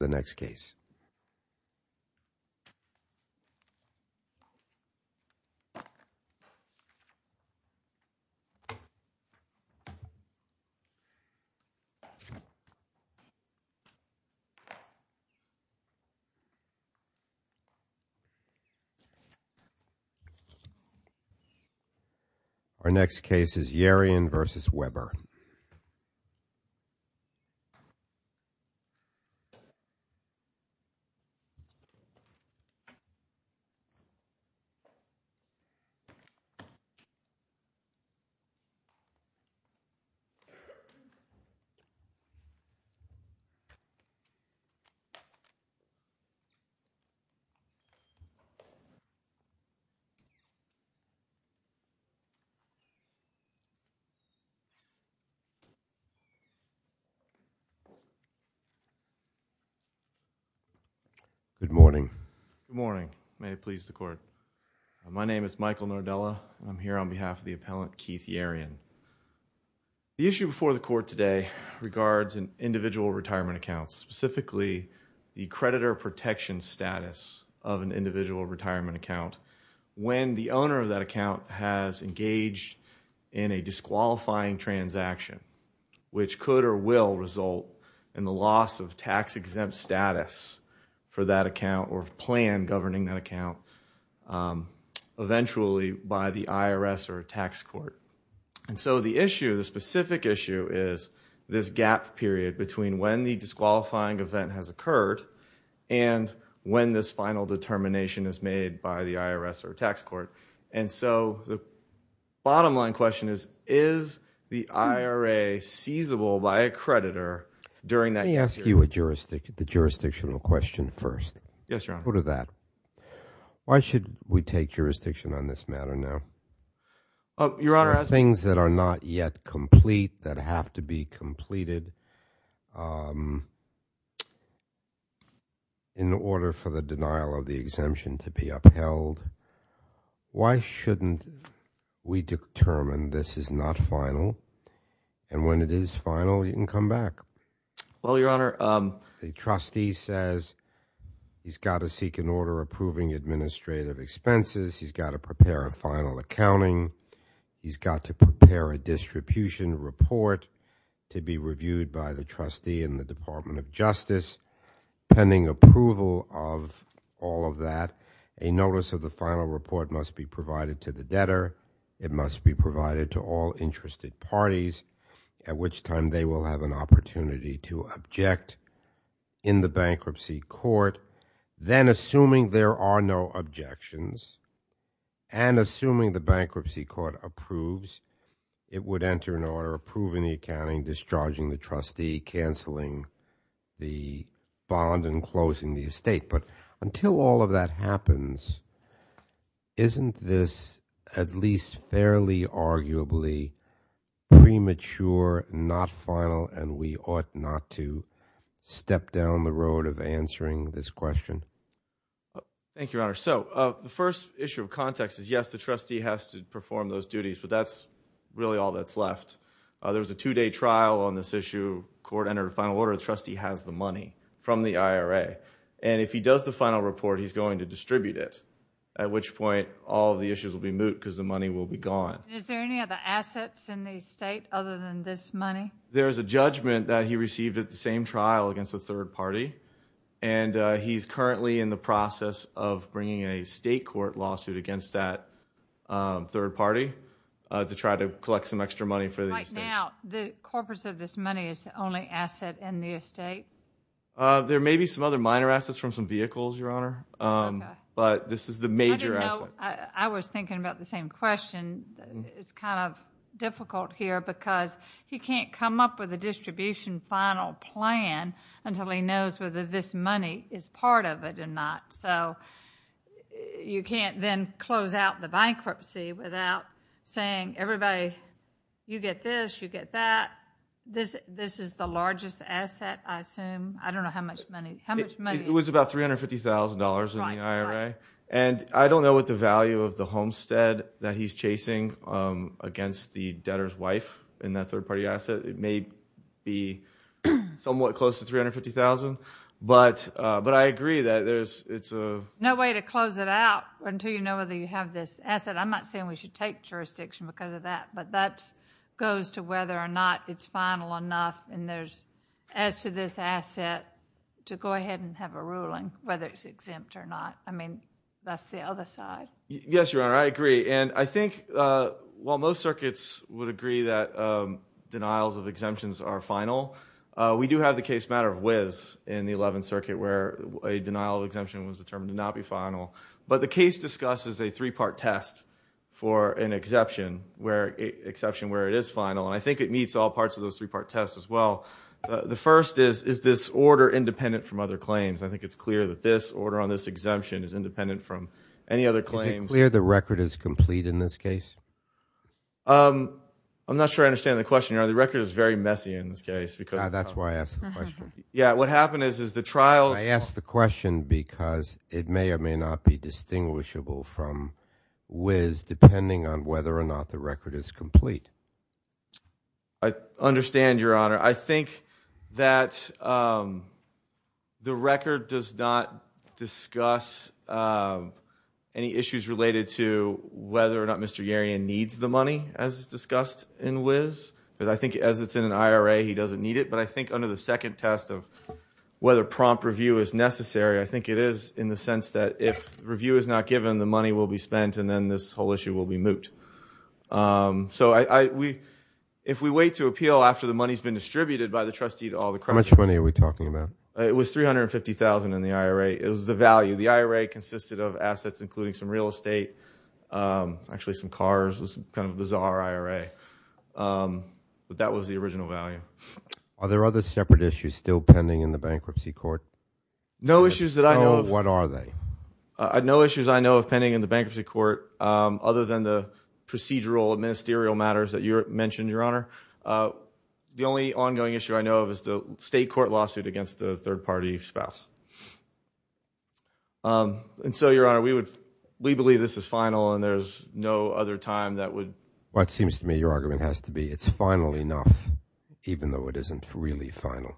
The next case. Our next case is Yerian v. Webber. Yerian v. Webber. Good morning. May it please the Court. My name is Michael Nordella. I'm here on behalf of the appellant Keith Yerian. The issue before the Court today regards an individual retirement account, specifically the creditor protection status of an individual retirement account. owner of that account has engaged in a disqualifying transaction, which could or will result in the loss of tax-exempt status for that account or plan governing that account eventually by the IRS or tax court. The specific issue is this gap period between when the disqualifying event has occurred and when this final determination is made by the IRS or tax court. And so the bottom line question is, is the IRA seizable by a creditor during that period? Let me ask you a jurisdictional question first. Yes, Your Honor. Go to that. Why should we take jurisdiction on this matter now? Your Honor, as— There are things that are not yet complete that have to be completed in order for the denial of the exemption to be upheld. Why shouldn't we determine this is not final? And when it is final, you can come back. Well, Your Honor— The trustee says he's got to seek an order approving administrative expenses. He's got to prepare a final accounting. He's got to prepare a distribution report to be reviewed by the trustee in the Department of Justice. Pending approval of all of that, a notice of the final report must be provided to the debtor. It must be provided to all interested parties, at which time they will have an opportunity to object in the bankruptcy court. Then, assuming there are no objections, and assuming the bankruptcy court approves, it would enter an order approving the accounting, discharging the trustee, canceling the bond, and closing the estate. But until all of that happens, isn't this at least fairly arguably premature, not final, and we ought not to step down the road of answering this question? Thank you, Your Honor. So, the first issue of context is, yes, the trustee has to perform those duties, but that's really all that's left. There was a two-day trial on this issue. The court entered a final order. The trustee has the money from the IRA. And if he does the final report, he's going to distribute it, at which point all of the issues will be moot because the money will be gone. Is there any other assets in the estate other than this money? There's a judgment that he received at the same trial against a third party, and he's currently in the process of bringing a state court lawsuit against that third party to try to collect some extra money for the estate. Right now, the corpus of this money is the only asset in the estate? There may be some other minor assets from some vehicles, Your Honor, but this is the major asset. I was thinking about the same question. It's kind of difficult here because he can't come up with a distribution final plan until he knows whether this money is part of it or not. So, you can't then close out the bankruptcy without saying, everybody, you get this, you get that. This is the largest asset, I assume. I don't know how much money. It was about $350,000 in the IRA. And I don't know what the value of the homestead that he's chasing against the debtor's wife in that third party asset. It may be somewhat close to $350,000, but I agree that it's a No way to close it out until you know whether you have this asset. I'm not saying we should take jurisdiction because of that, but that goes to whether or not it's final enough. And as to this asset, to go ahead and have a ruling whether it's exempt or not. I mean, that's the other side. Yes, Your Honor, I agree. And I think while most circuits would agree that denials of exemptions are final, we do have the case matter of Wizz in the 11th Circuit where a denial of exemption was determined to not be final. But the case discusses a three-part test for an exception where it is final. And I think it meets all parts of those three-part tests as well. The first is, is this order independent from other claims? I think it's clear that this order on this exemption is independent from any other claims. Is it clear the record is complete in this case? I'm not sure I understand the question, Your Honor. The record is very messy in this case because That's why I asked the question. Yeah, what happened is, is the trial I asked the question because it may or may not be distinguishable from Wizz depending on whether or not the record is complete. I understand, Your Honor. I think that the record does not discuss any issues related to whether or not Mr. Yerian needs the money, as is discussed in Wizz. I think as it's in an IRA, he doesn't need it. But I think under the second test of whether prompt review is necessary, I think it is in the sense that if review is not given, the money will be spent, and then this whole issue will be moot. So if we wait to appeal after the money has been distributed by the trustee to all the creditors How much money are we talking about? It was $350,000 in the IRA. It was the value. The IRA consisted of assets including some real estate, actually some cars. It was kind of a bizarre IRA. But that was the original value. Are there other separate issues still pending in the bankruptcy court? No issues that I know of. What are they? No issues I know of pending in the bankruptcy court other than the procedural, ministerial matters that you mentioned, Your Honor. The only ongoing issue I know of is the state court lawsuit against the third-party spouse. And so, Your Honor, we believe this is final and there's no other time that would what seems to me your argument has to be it's final enough, even though it isn't really final.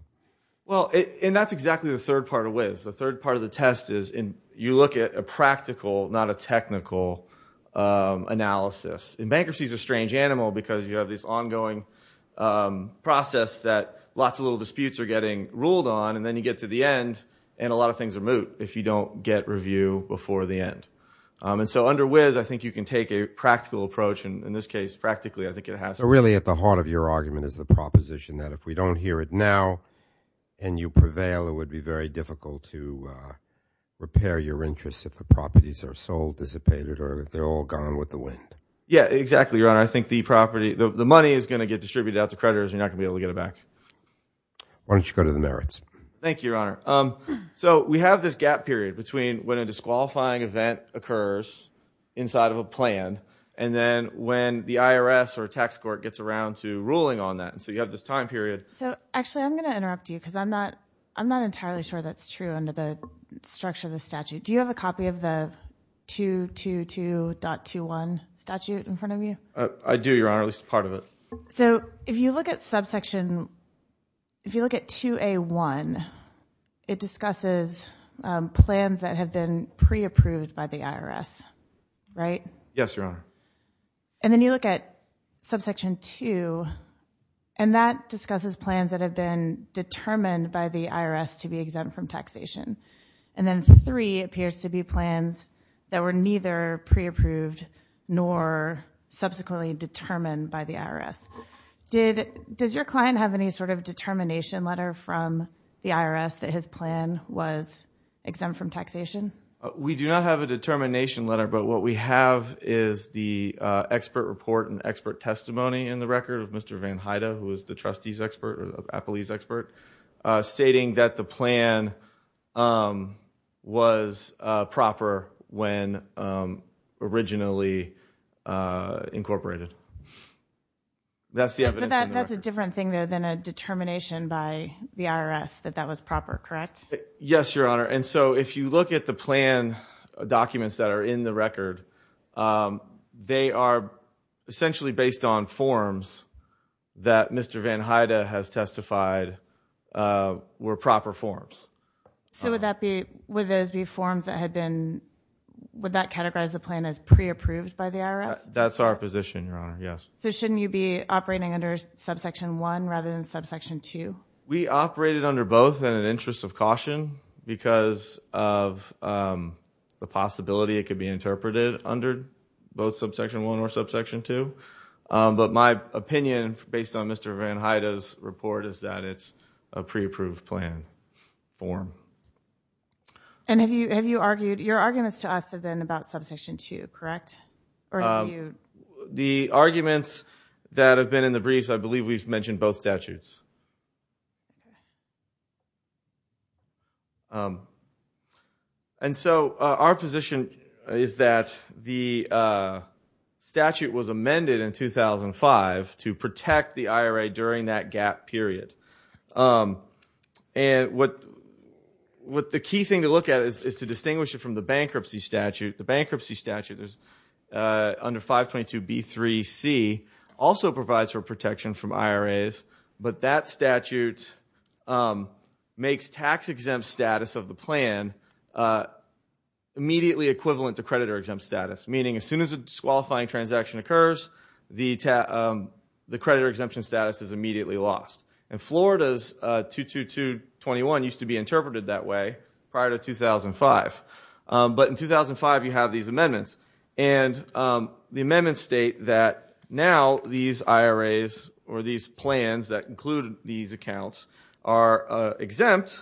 Well, and that's exactly the third part of WIS. The third part of the test is you look at a practical, not a technical, analysis. And bankruptcy is a strange animal because you have this ongoing process that lots of little disputes are getting ruled on, and then you get to the end, and a lot of things are moot if you don't get review before the end. And so under WIS, I think you can take a practical approach. In this case, practically, I think it has to be. So really at the heart of your argument is the proposition that if we don't hear it now and you prevail, it would be very difficult to repair your interests if the properties are sold, dissipated, or if they're all gone with the wind. Yeah, exactly, Your Honor. I think the property, the money is going to get distributed out to creditors. You're not going to be able to get it back. Why don't you go to the merits? Thank you, Your Honor. So we have this gap period between when a disqualifying event occurs inside of a plan and then when the IRS or tax court gets around to ruling on that. So you have this time period. Actually, I'm going to interrupt you because I'm not entirely sure that's true under the structure of the statute. Do you have a copy of the 222.21 statute in front of you? I do, Your Honor, at least part of it. So if you look at subsection, if you look at 2A.1, it discusses plans that have been pre-approved by the IRS, right? Yes, Your Honor. And then you look at subsection 2, and that discusses plans that have been determined by the IRS to be exempt from taxation. And then 3 appears to be plans that were neither pre-approved nor subsequently determined by the IRS. Does your client have any sort of determination letter from the IRS that his plan was exempt from taxation? We do not have a determination letter, but what we have is the expert report and expert testimony in the record of Mr. Van Hyda, who is the trustees expert or the appellees expert, stating that the plan was proper when originally incorporated. That's the evidence in the record. That's a different thing, though, than a determination by the IRS that that was proper, correct? Yes, Your Honor. And so if you look at the plan documents that are in the record, they are essentially based on forms that Mr. Van Hyda has testified were proper forms. So would that be, would those be forms that had been, would that categorize the plan as pre-approved by the IRS? That's our position, Your Honor, yes. So shouldn't you be operating under subsection 1 rather than subsection 2? We operated under both in an interest of caution because of the possibility it could be interpreted under both subsection 1 or subsection 2. But my opinion, based on Mr. Van Hyda's report, is that it's a pre-approved plan form. And have you argued, your arguments to us have been about subsection 2, correct? The arguments that have been in the briefs, I believe we've mentioned both statutes. And so our position is that the statute was amended in 2005 to protect the IRA during that gap period. And what the key thing to look at is to distinguish it from the bankruptcy statute. The bankruptcy statute under 522B3C also provides for protection from IRAs, but that statute makes tax-exempt status of the plan immediately equivalent to creditor-exempt status, meaning as soon as a disqualifying transaction occurs, the creditor-exemption status is immediately lost. And Florida's 22221 used to be interpreted that way prior to 2005. But in 2005, you have these amendments. And the amendments state that now these IRAs or these plans that include these accounts are exempt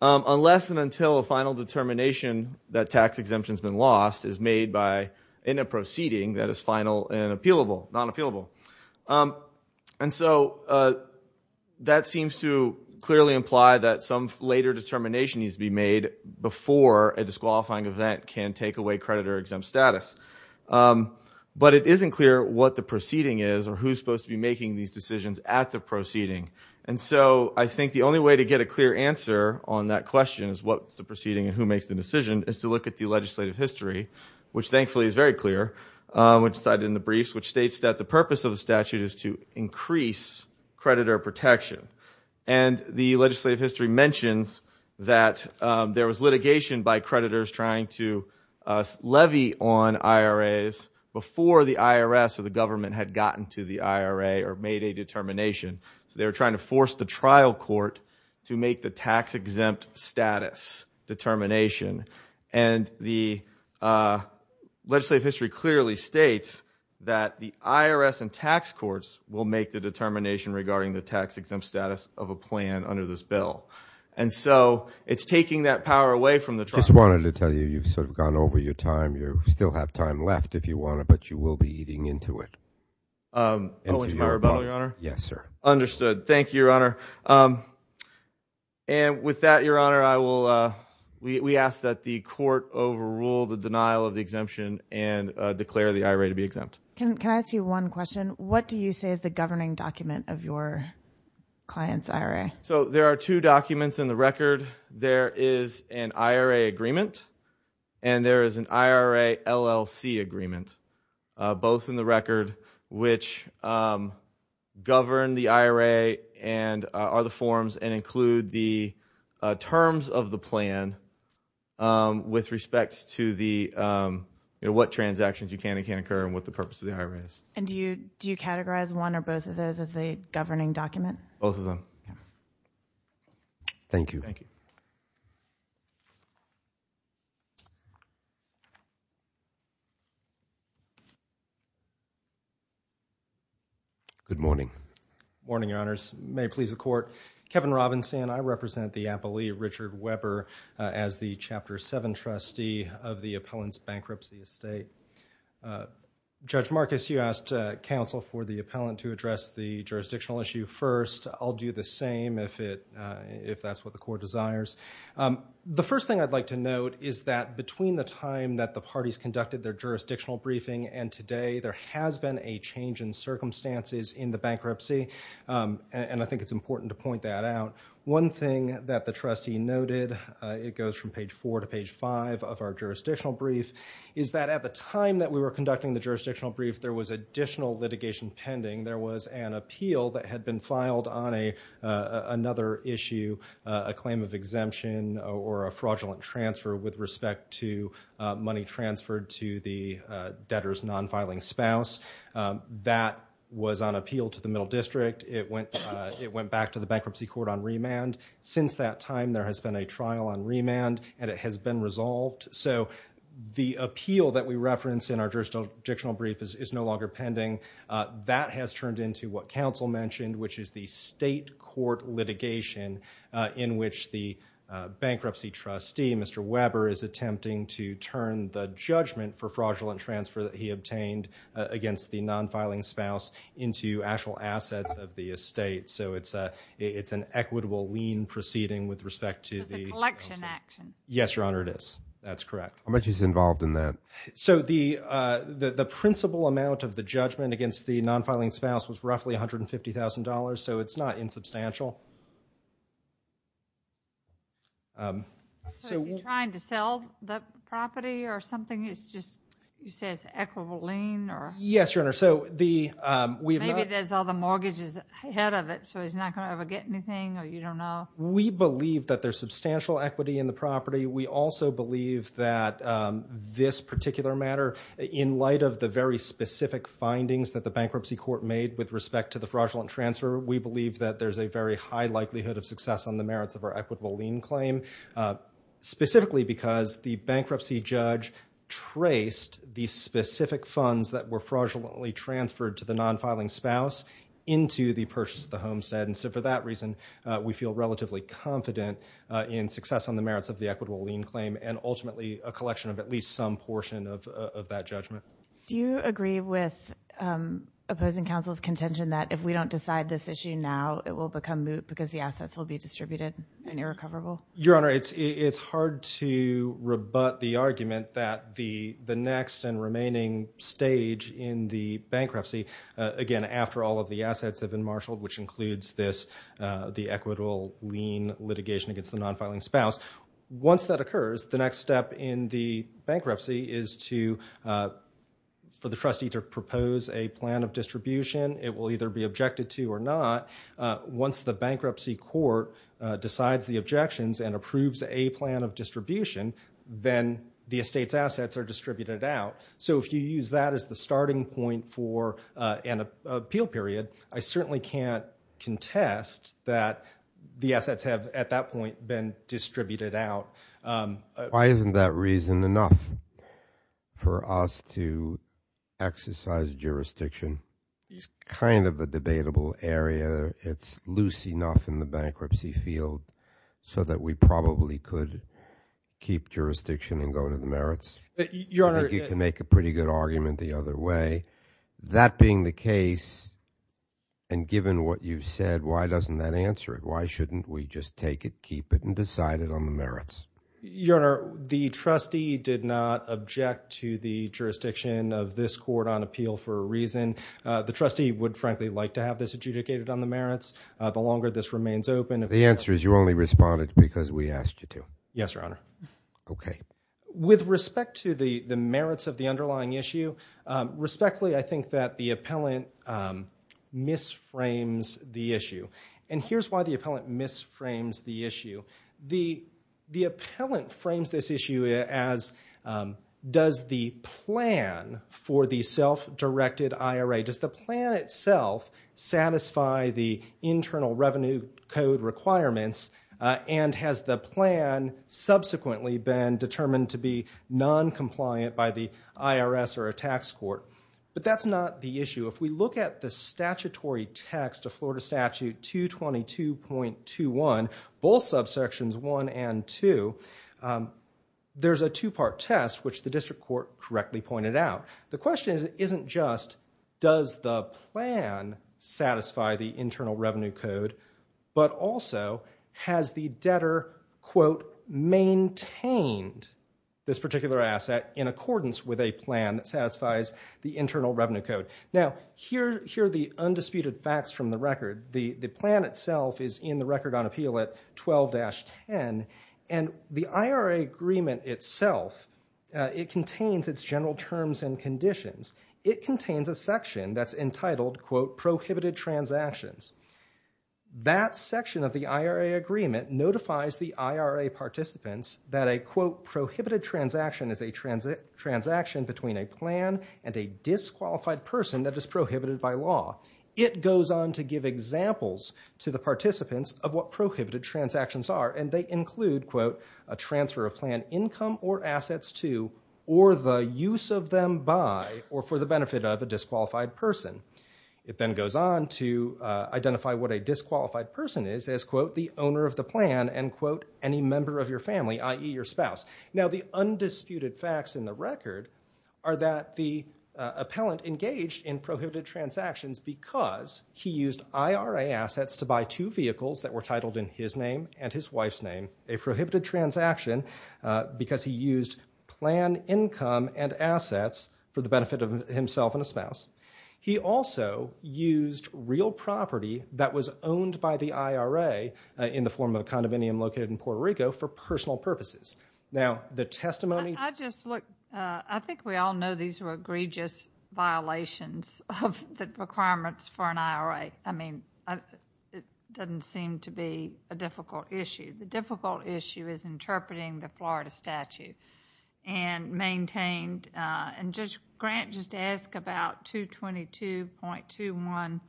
unless and until a final determination that tax exemption has been lost is made in a proceeding that is final and non-appealable. And so that seems to clearly imply that some later determination needs to be made before a disqualifying event can take away creditor-exempt status. But it isn't clear what the proceeding is or who's supposed to be making these decisions at the proceeding. And so I think the only way to get a clear answer on that question is what's the proceeding and who makes the decision is to look at the legislative history, which thankfully is very clear, which is cited in the briefs, which states that the purpose of the statute is to increase creditor protection. And the legislative history mentions that there was litigation by creditors trying to levy on IRAs before the IRS or the government had gotten to the IRA or made a determination. They were trying to force the trial court to make the tax-exempt status determination. And the legislative history clearly states that the IRS and tax courts will make the determination regarding the tax-exempt status of a plan under this bill. And so it's taking that power away from the trial court. I just wanted to tell you, you've sort of gone over your time. You still have time left if you want to, but you will be eating into it. Owing to my rebuttal, Your Honor? Yes, sir. Understood. Thank you, Your Honor. And with that, Your Honor, we ask that the court overrule the denial of the exemption and declare the IRA to be exempt. Can I ask you one question? What do you say is the governing document of your client's IRA? So there are two documents in the record. There is an IRA agreement and there is an IRA LLC agreement, both in the record which govern the IRA and other forms and include the terms of the plan with respect to what transactions you can and can't incur and what the purpose of the IRA is. And do you categorize one or both of those as the governing document? Both of them. Thank you. Thank you. Good morning. Morning, Your Honors. May it please the court. Kevin Robinson. I represent the appellee, Richard Weber, as the Chapter 7 trustee of the appellant's bankruptcy estate. Judge Marcus, you asked counsel for the appellant to address the jurisdictional issue first. I'll do the same if that's what the court desires. The first thing I'd like to note is that between the time that the parties conducted their jurisdictional briefing and today, there has been a change in circumstances in the bankruptcy, and I think it's important to point that out. One thing that the trustee noted, it goes from page 4 to page 5 of our jurisdictional brief, is that at the time that we were conducting the jurisdictional brief, there was additional litigation pending. There was an appeal that had been filed on another issue, a claim of exemption or a fraudulent transfer with respect to money transferred to the debtor's non-filing spouse. That was on appeal to the Middle District. It went back to the Bankruptcy Court on remand. Since that time, there has been a trial on remand, and it has been resolved. So the appeal that we reference in our jurisdictional brief is no longer pending. That has turned into what counsel mentioned, which is the state court litigation in which the bankruptcy trustee, Mr. Weber, is attempting to turn the judgment for fraudulent transfer that he obtained against the non-filing spouse into actual assets of the estate. So it's an equitable lien proceeding with respect to the— It's a collection action. Yes, Your Honor, it is. That's correct. How much is involved in that? So the principal amount of the judgment against the non-filing spouse was roughly $150,000, so it's not insubstantial. So is he trying to sell the property or something? You say it's an equitable lien? Yes, Your Honor, so the— Maybe there's all the mortgages ahead of it, so he's not going to ever get anything, or you don't know? We believe that there's substantial equity in the property. We also believe that this particular matter, in light of the very specific findings that the bankruptcy court made with respect to the fraudulent transfer, we believe that there's a very high likelihood of success on the merits of our equitable lien claim, specifically because the bankruptcy judge traced the specific funds that were fraudulently transferred to the non-filing spouse into the purchase of the homestead, and so for that reason, we feel relatively confident in success on the merits of the equitable lien claim and ultimately a collection of at least some portion of that judgment. Do you agree with opposing counsel's contention that if we don't decide this issue now, it will become moot because the assets will be distributed and irrecoverable? Your Honor, it's hard to rebut the argument that the next and remaining stage in the bankruptcy, again, after all of the assets have been marshaled, which includes the equitable lien litigation against the non-filing spouse, once that occurs, the next step in the bankruptcy is for the trustee to propose a plan of distribution. It will either be objected to or not. Once the bankruptcy court decides the objections and approves a plan of distribution, then the estate's assets are distributed out. So if you use that as the starting point for an appeal period, I certainly can't contest that the assets have at that point been distributed out. Why isn't that reason enough for us to exercise jurisdiction? It's kind of a debatable area. It's loose enough in the bankruptcy field so that we probably could keep jurisdiction and go to the merits. Your Honor. I think you can make a pretty good argument the other way. That being the case, and given what you've said, why doesn't that answer it? Why shouldn't we just take it, keep it, and decide it on the merits? Your Honor, the trustee did not object to the jurisdiction of this court on appeal for a reason. The trustee would, frankly, like to have this adjudicated on the merits the longer this remains open. The answer is you only responded because we asked you to. Yes, Your Honor. Okay. With respect to the merits of the underlying issue, respectfully, I think that the appellant misframes the issue. Here's why the appellant misframes the issue. The appellant frames this issue as does the plan for the self-directed IRA, does the plan itself satisfy the internal revenue code requirements, and has the plan subsequently been determined to be noncompliant by the IRS or a tax court? But that's not the issue. If we look at the statutory text of Florida Statute 222.21, both subsections 1 and 2, there's a two-part test, which the district court correctly pointed out. The question isn't just does the plan satisfy the internal revenue code, but also has the debtor, quote, maintained this particular asset in accordance with a plan that satisfies the internal revenue code? Now, here are the undisputed facts from the record. The plan itself is in the record on appeal at 12-10, and the IRA agreement itself, it contains its general terms and conditions. It contains a section that's entitled, quote, prohibited transactions. That section of the IRA agreement notifies the IRA participants that a, quote, prohibited transaction is a transaction between a plan and a disqualified person that is prohibited by law. It goes on to give examples to the participants of what prohibited transactions are, and they include, quote, a transfer of plan income or assets to, or the use of them by or for the benefit of a disqualified person. It then goes on to identify what a disqualified person is as, quote, the owner of the plan, and, quote, any member of your family, i.e. your spouse. Now, the undisputed facts in the record are that the appellant engaged in prohibited transactions because he used IRA assets to buy two vehicles that were titled in his name and his wife's name, a prohibited transaction because he used plan income and assets for the benefit of himself and a spouse. He also used real property that was owned by the IRA in the form of a condominium located in Puerto Rico for personal purposes. Now, the testimony— I just look—I think we all know these were egregious violations of the requirements for an IRA. I mean, it doesn't seem to be a difficult issue. The difficult issue is interpreting the Florida statute and maintained—and Judge Grant just asked about 222.211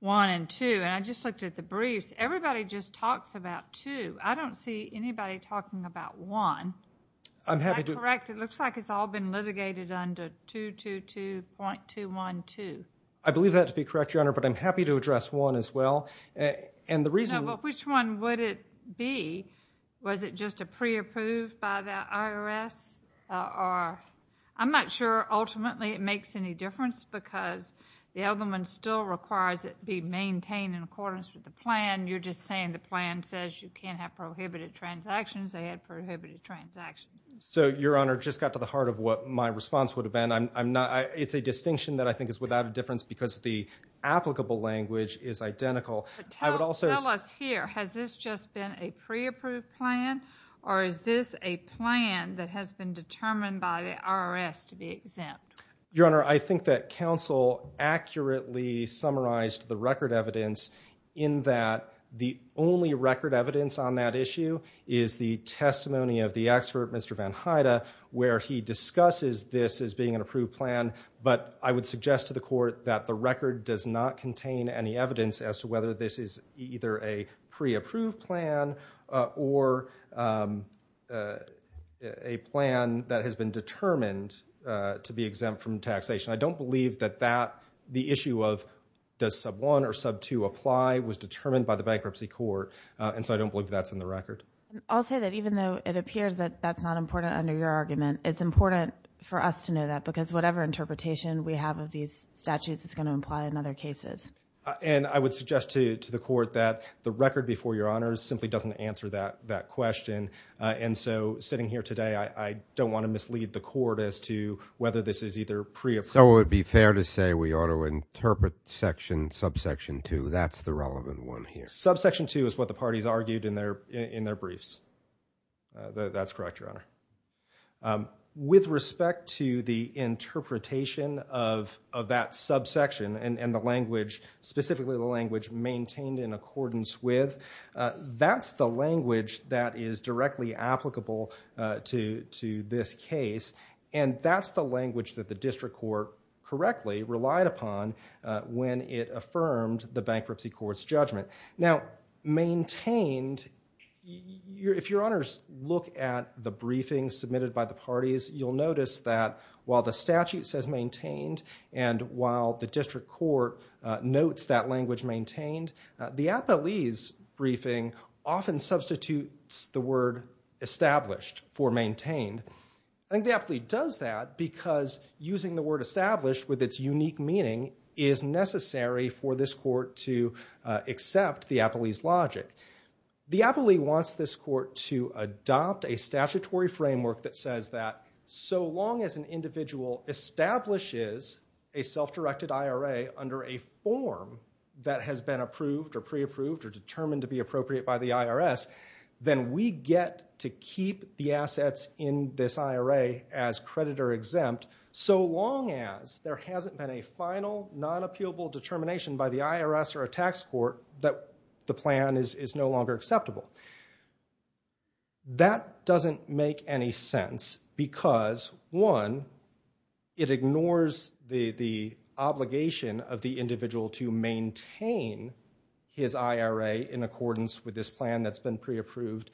and 2, and I just looked at the briefs. Everybody just talks about 2. I don't see anybody talking about 1. Am I correct? It looks like it's all been litigated under 222.212. I believe that to be correct, Your Honor, but I'm happy to address 1 as well, and the reason— Well, which one would it be? Was it just a pre-approved by the IRS? I'm not sure ultimately it makes any difference because the other one still requires it be maintained in accordance with the plan. You're just saying the plan says you can't have prohibited transactions. They had prohibited transactions. So, Your Honor, just got to the heart of what my response would have been. It's a distinction that I think is without a difference because the applicable language is identical. Tell us here. Has this just been a pre-approved plan, or is this a plan that has been determined by the IRS to be exempt? Your Honor, I think that counsel accurately summarized the record evidence in that the only record evidence on that issue is the testimony of the expert, Mr. Van Hyda, where he discusses this as being an approved plan, but I would suggest to the court that the record does not contain any evidence as to whether this is either a pre-approved plan or a plan that has been determined to be exempt from taxation. I don't believe that the issue of does sub-1 or sub-2 apply was determined by the bankruptcy court, and so I don't believe that's in the record. I'll say that even though it appears that that's not important under your argument, it's important for us to know that because whatever interpretation we have of these statutes is going to imply in other cases. And I would suggest to the court that the record before Your Honor simply doesn't answer that question, and so sitting here today, I don't want to mislead the court as to whether this is either pre-approved. So it would be fair to say we ought to interpret sub-section 2. That's the relevant one here. Sub-section 2 is what the parties argued in their briefs. That's correct, Your Honor. With respect to the interpretation of that sub-section and the language, specifically the language maintained in accordance with, that's the language that is directly applicable to this case, and that's the language that the district court correctly relied upon when it affirmed the bankruptcy court's judgment. Now, maintained, if Your Honors look at the briefings submitted by the parties, you'll notice that while the statute says maintained, and while the district court notes that language maintained, the appellee's briefing often substitutes the word established for maintained. I think the appellee does that because using the word established with its unique meaning is necessary for this court to accept the appellee's logic. The appellee wants this court to adopt a statutory framework that says that so long as an individual establishes a self-directed IRA under a form that has been approved or pre-approved or determined to be appropriate by the IRS, then we get to keep the assets in this IRA as creditor-exempt so long as there hasn't been a final, non-appealable determination by the IRS or a tax court that the plan is no longer acceptable. That doesn't make any sense because, one, it ignores the obligation of the individual to maintain his IRA in accordance with this plan that's been pre-approved.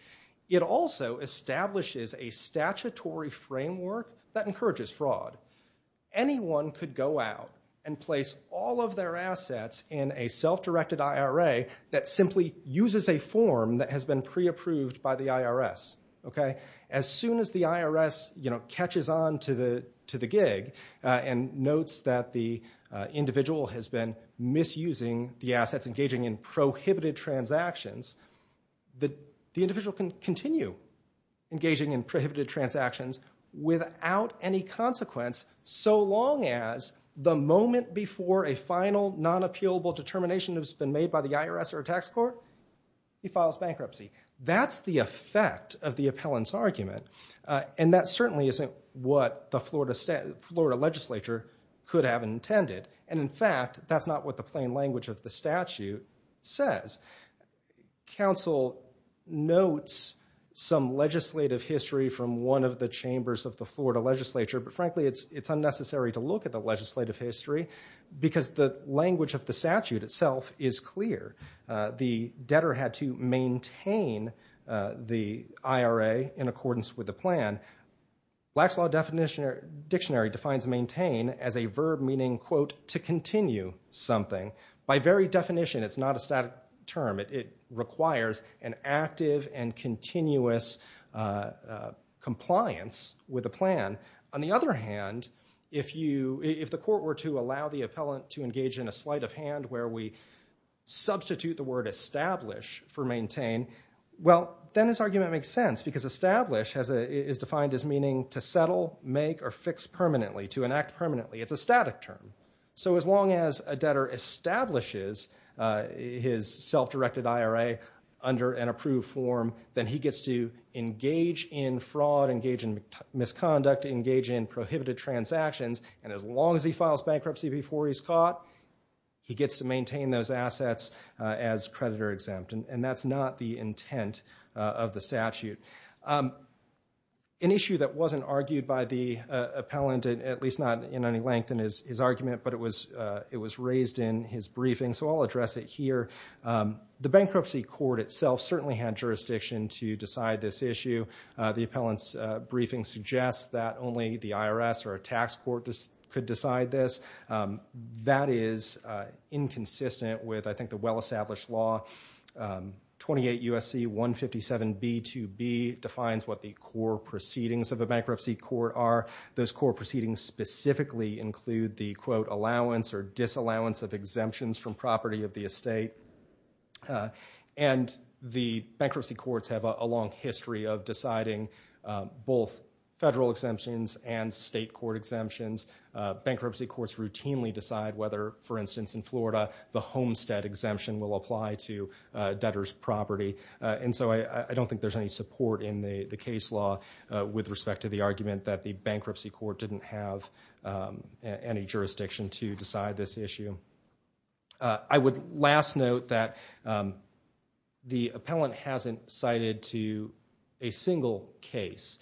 It also establishes a statutory framework that encourages fraud. Anyone could go out and place all of their assets in a self-directed IRA that simply uses a form that has been pre-approved by the IRS. As soon as the IRS catches on to the gig and notes that the individual has been misusing the assets, engaging in prohibited transactions, the individual can continue engaging in prohibited transactions without any consequence so long as the moment before a final, non-appealable determination has been made by the IRS or a tax court, he files bankruptcy. That's the effect of the appellant's argument, and that certainly isn't what the Florida legislature could have intended. In fact, that's not what the plain language of the statute says. Council notes some legislative history from one of the chambers of the Florida legislature, but frankly it's unnecessary to look at the legislative history because the language of the statute itself is clear. The debtor had to maintain the IRA in accordance with the plan. Black's Law Dictionary defines maintain as a verb meaning, quote, to continue something. By very definition, it's not a static term. It requires an active and continuous compliance with the plan. On the other hand, if the court were to allow the appellant to engage in a sleight of hand where we substitute the word establish for maintain, well, then his argument makes sense because establish is defined as meaning to settle, make, or fix permanently, to enact permanently. It's a static term. So as long as a debtor establishes his self-directed IRA under an approved form, then he gets to engage in fraud, engage in misconduct, engage in prohibited transactions, and as long as he files bankruptcy before he's caught, he gets to maintain those assets as creditor exempt, and that's not the intent of the statute. An issue that wasn't argued by the appellant, at least not in any length in his argument, but it was raised in his briefing, so I'll address it here. The bankruptcy court itself certainly had jurisdiction to decide this issue. The appellant's briefing suggests that only the IRS or a tax court could decide this. That is inconsistent with, I think, the well-established law. 28 U.S.C. 157b2b defines what the core proceedings of a bankruptcy court are. Those core proceedings specifically include the, quote, allowance or disallowance of exemptions from property of the estate, and the bankruptcy courts have a long history of deciding both federal exemptions and state court exemptions. Bankruptcy courts routinely decide whether, for instance, in Florida, the homestead exemption will apply to debtor's property, and so I don't think there's any support in the case law with respect to the argument that the bankruptcy court didn't have any jurisdiction to decide this issue. I would last note that the appellant hasn't cited a single case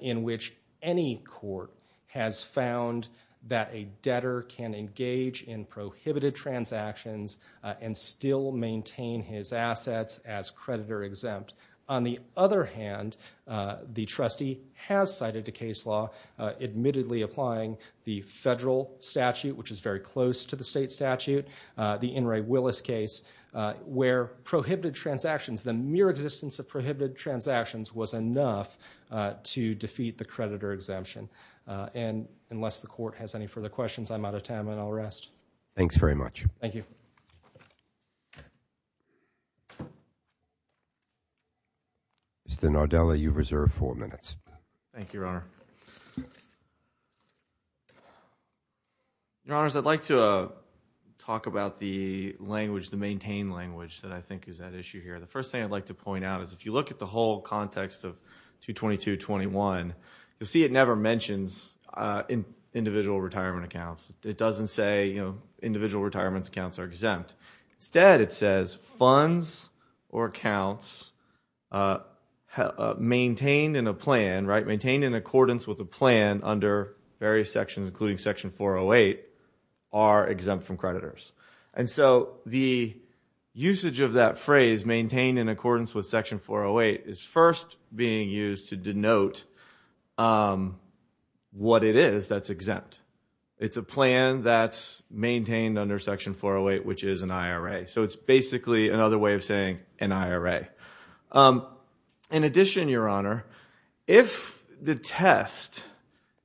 in which any court has found that a debtor can engage in prohibited transactions and still maintain his assets as creditor-exempt. On the other hand, the trustee has cited a case law admittedly applying the federal statute, which is very close to the state statute, the In re Willis case, where prohibited transactions, the mere existence of prohibited transactions, was enough to defeat the creditor exemption. And unless the court has any further questions, I'm out of time and I'll rest. Thanks very much. Thank you. Mr. Nardella, you've reserved four minutes. Thank you, Your Honor. Your Honors, I'd like to talk about the language, the maintained language that I think is at issue here. The first thing I'd like to point out is if you look at the whole context of 22221, you'll see it never mentions individual retirement accounts. It doesn't say, you know, individual retirement accounts are exempt. Instead, it says funds or accounts maintained in a plan, right, maintained in accordance with a plan under various sections, including Section 408, are exempt from creditors. And so the usage of that phrase, maintained in accordance with Section 408, is first being used to denote what it is that's exempt. It's a plan that's maintained under Section 408, which is an IRA. So it's basically another way of saying an IRA. In addition, Your Honor, if the test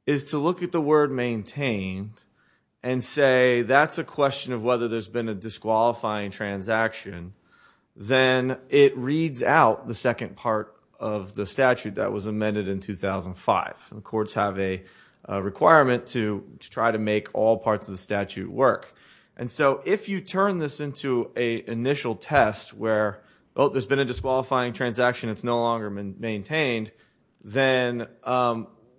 is to look at the word maintained and say that's a question of whether there's been a disqualifying transaction, then it reads out the second part of the statute that was amended in 2005. Courts have a requirement to try to make all parts of the statute work. And so if you turn this into an initial test where, oh, there's been a disqualifying transaction, it's no longer maintained, then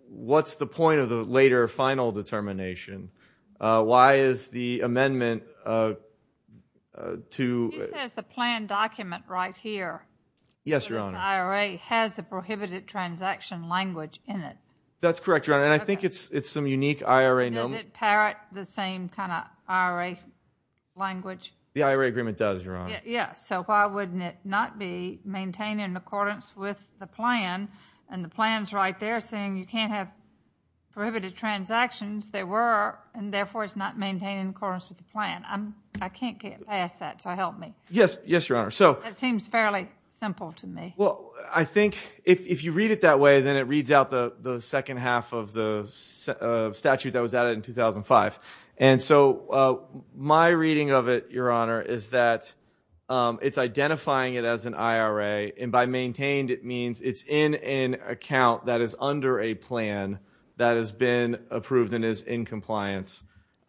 what's the point of the later final determination? Why is the amendment to... He says the plan document right here... Yes, Your Honor. ...for this IRA has the prohibited transaction language in it. That's correct, Your Honor, and I think it's some unique IRA... And does it parrot the same kind of IRA language? The IRA agreement does, Your Honor. Yeah, so why wouldn't it not be maintained in accordance with the plan? And the plan's right there saying you can't have prohibited transactions. There were, and therefore, it's not maintained in accordance with the plan. I can't get past that, so help me. Yes, Your Honor. That seems fairly simple to me. Well, I think if you read it that way, then it reads out the second half of the statute that was added in 2005. And so my reading of it, Your Honor, is that it's identifying it as an IRA, and by maintained, it means it's in an account that is under a plan that has been approved and is in compliance.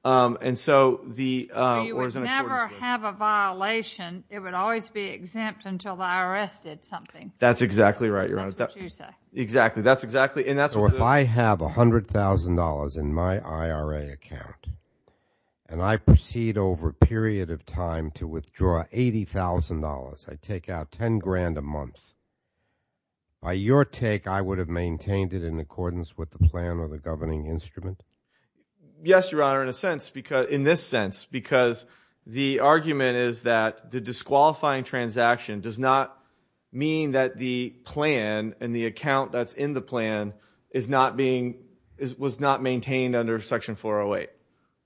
And so the... You would never have a violation. It would always be exempt until the IRS did something. That's exactly right, Your Honor. That's what you say. Exactly, that's exactly... So if I have $100,000 in my IRA account and I proceed over a period of time to withdraw $80,000, I take out $10,000 a month, by your take, I would have maintained it in accordance with the plan or the governing instrument? Yes, Your Honor, in this sense, because the argument is that the disqualifying transaction does not mean that the plan and the account that's in the plan was not maintained under Section 408.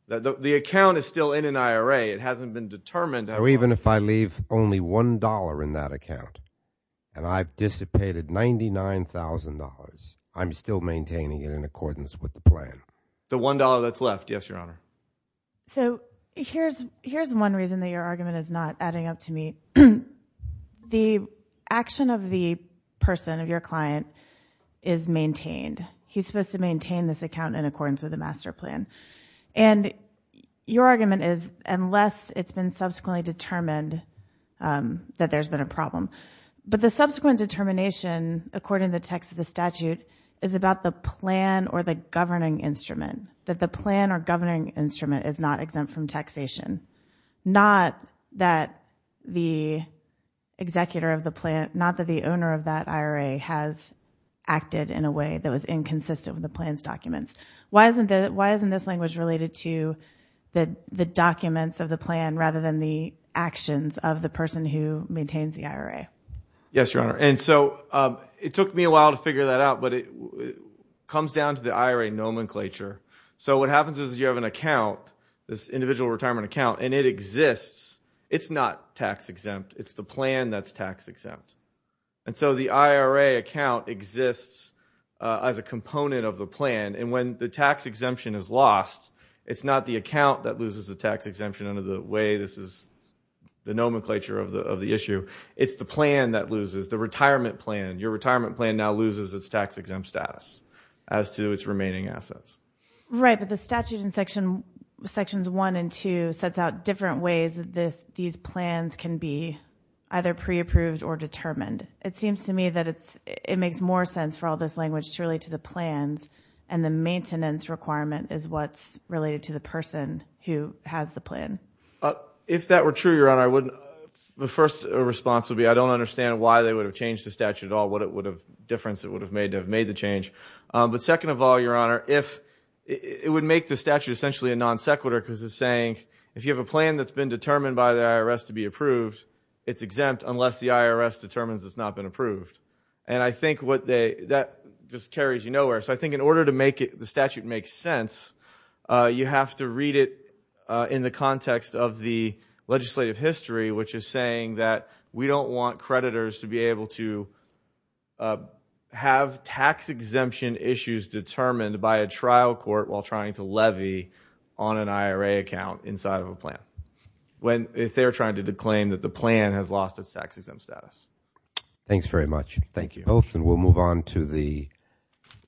The account is still in an IRA. It hasn't been determined... So even if I leave only $1 in that account and I've dissipated $99,000, I'm still maintaining it in accordance with the plan? The $1 that's left, yes, Your Honor. So here's one reason that your argument is not adding up to me. The action of the person, of your client, is maintained. He's supposed to maintain this account in accordance with the master plan. And your argument is, unless it's been subsequently determined that there's been a problem. But the subsequent determination, according to the text of the statute, is about the plan or the governing instrument. That the plan or governing instrument is not exempt from taxation. Not that the executor of the plan, not that the owner of that IRA has acted in a way that was inconsistent with the plan's documents. Why isn't this language related to the documents of the plan rather than the actions of the person who maintains the IRA? Yes, Your Honor. And so it took me a while to figure that out, but it comes down to the IRA nomenclature. So what happens is you have an account, this individual retirement account, and it exists. It's not tax-exempt. It's the plan that's tax-exempt. And so the IRA account exists as a component of the plan, and when the tax exemption is lost, it's not the account that loses the tax exemption under the way this is the nomenclature of the issue. It's the plan that loses, the retirement plan. Your retirement plan now loses its tax-exempt status as to its remaining assets. Right, but the statute in Sections 1 and 2 sets out different ways that these plans can be either pre-approved or determined. It seems to me that it makes more sense for all this language to relate to the plans, and the maintenance requirement is what's related to the person who has the plan. If that were true, Your Honor, the first response would be I don't understand why they would have changed the statute at all, what difference it would have made to have made the change. But second of all, Your Honor, it would make the statute essentially a non-sequitur because it's saying if you have a plan that's been determined by the IRS to be approved, it's exempt unless the IRS determines it's not been approved. And I think that just carries you nowhere. So I think in order to make the statute make sense, you have to read it in the context of the legislative history, which is saying that we don't want creditors to be able to have tax-exemption issues determined by a trial court while trying to levy on an IRA account inside of a plan if they're trying to claim that the plan has lost its tax-exempt status. Thanks very much. Thank you. We'll move on to the...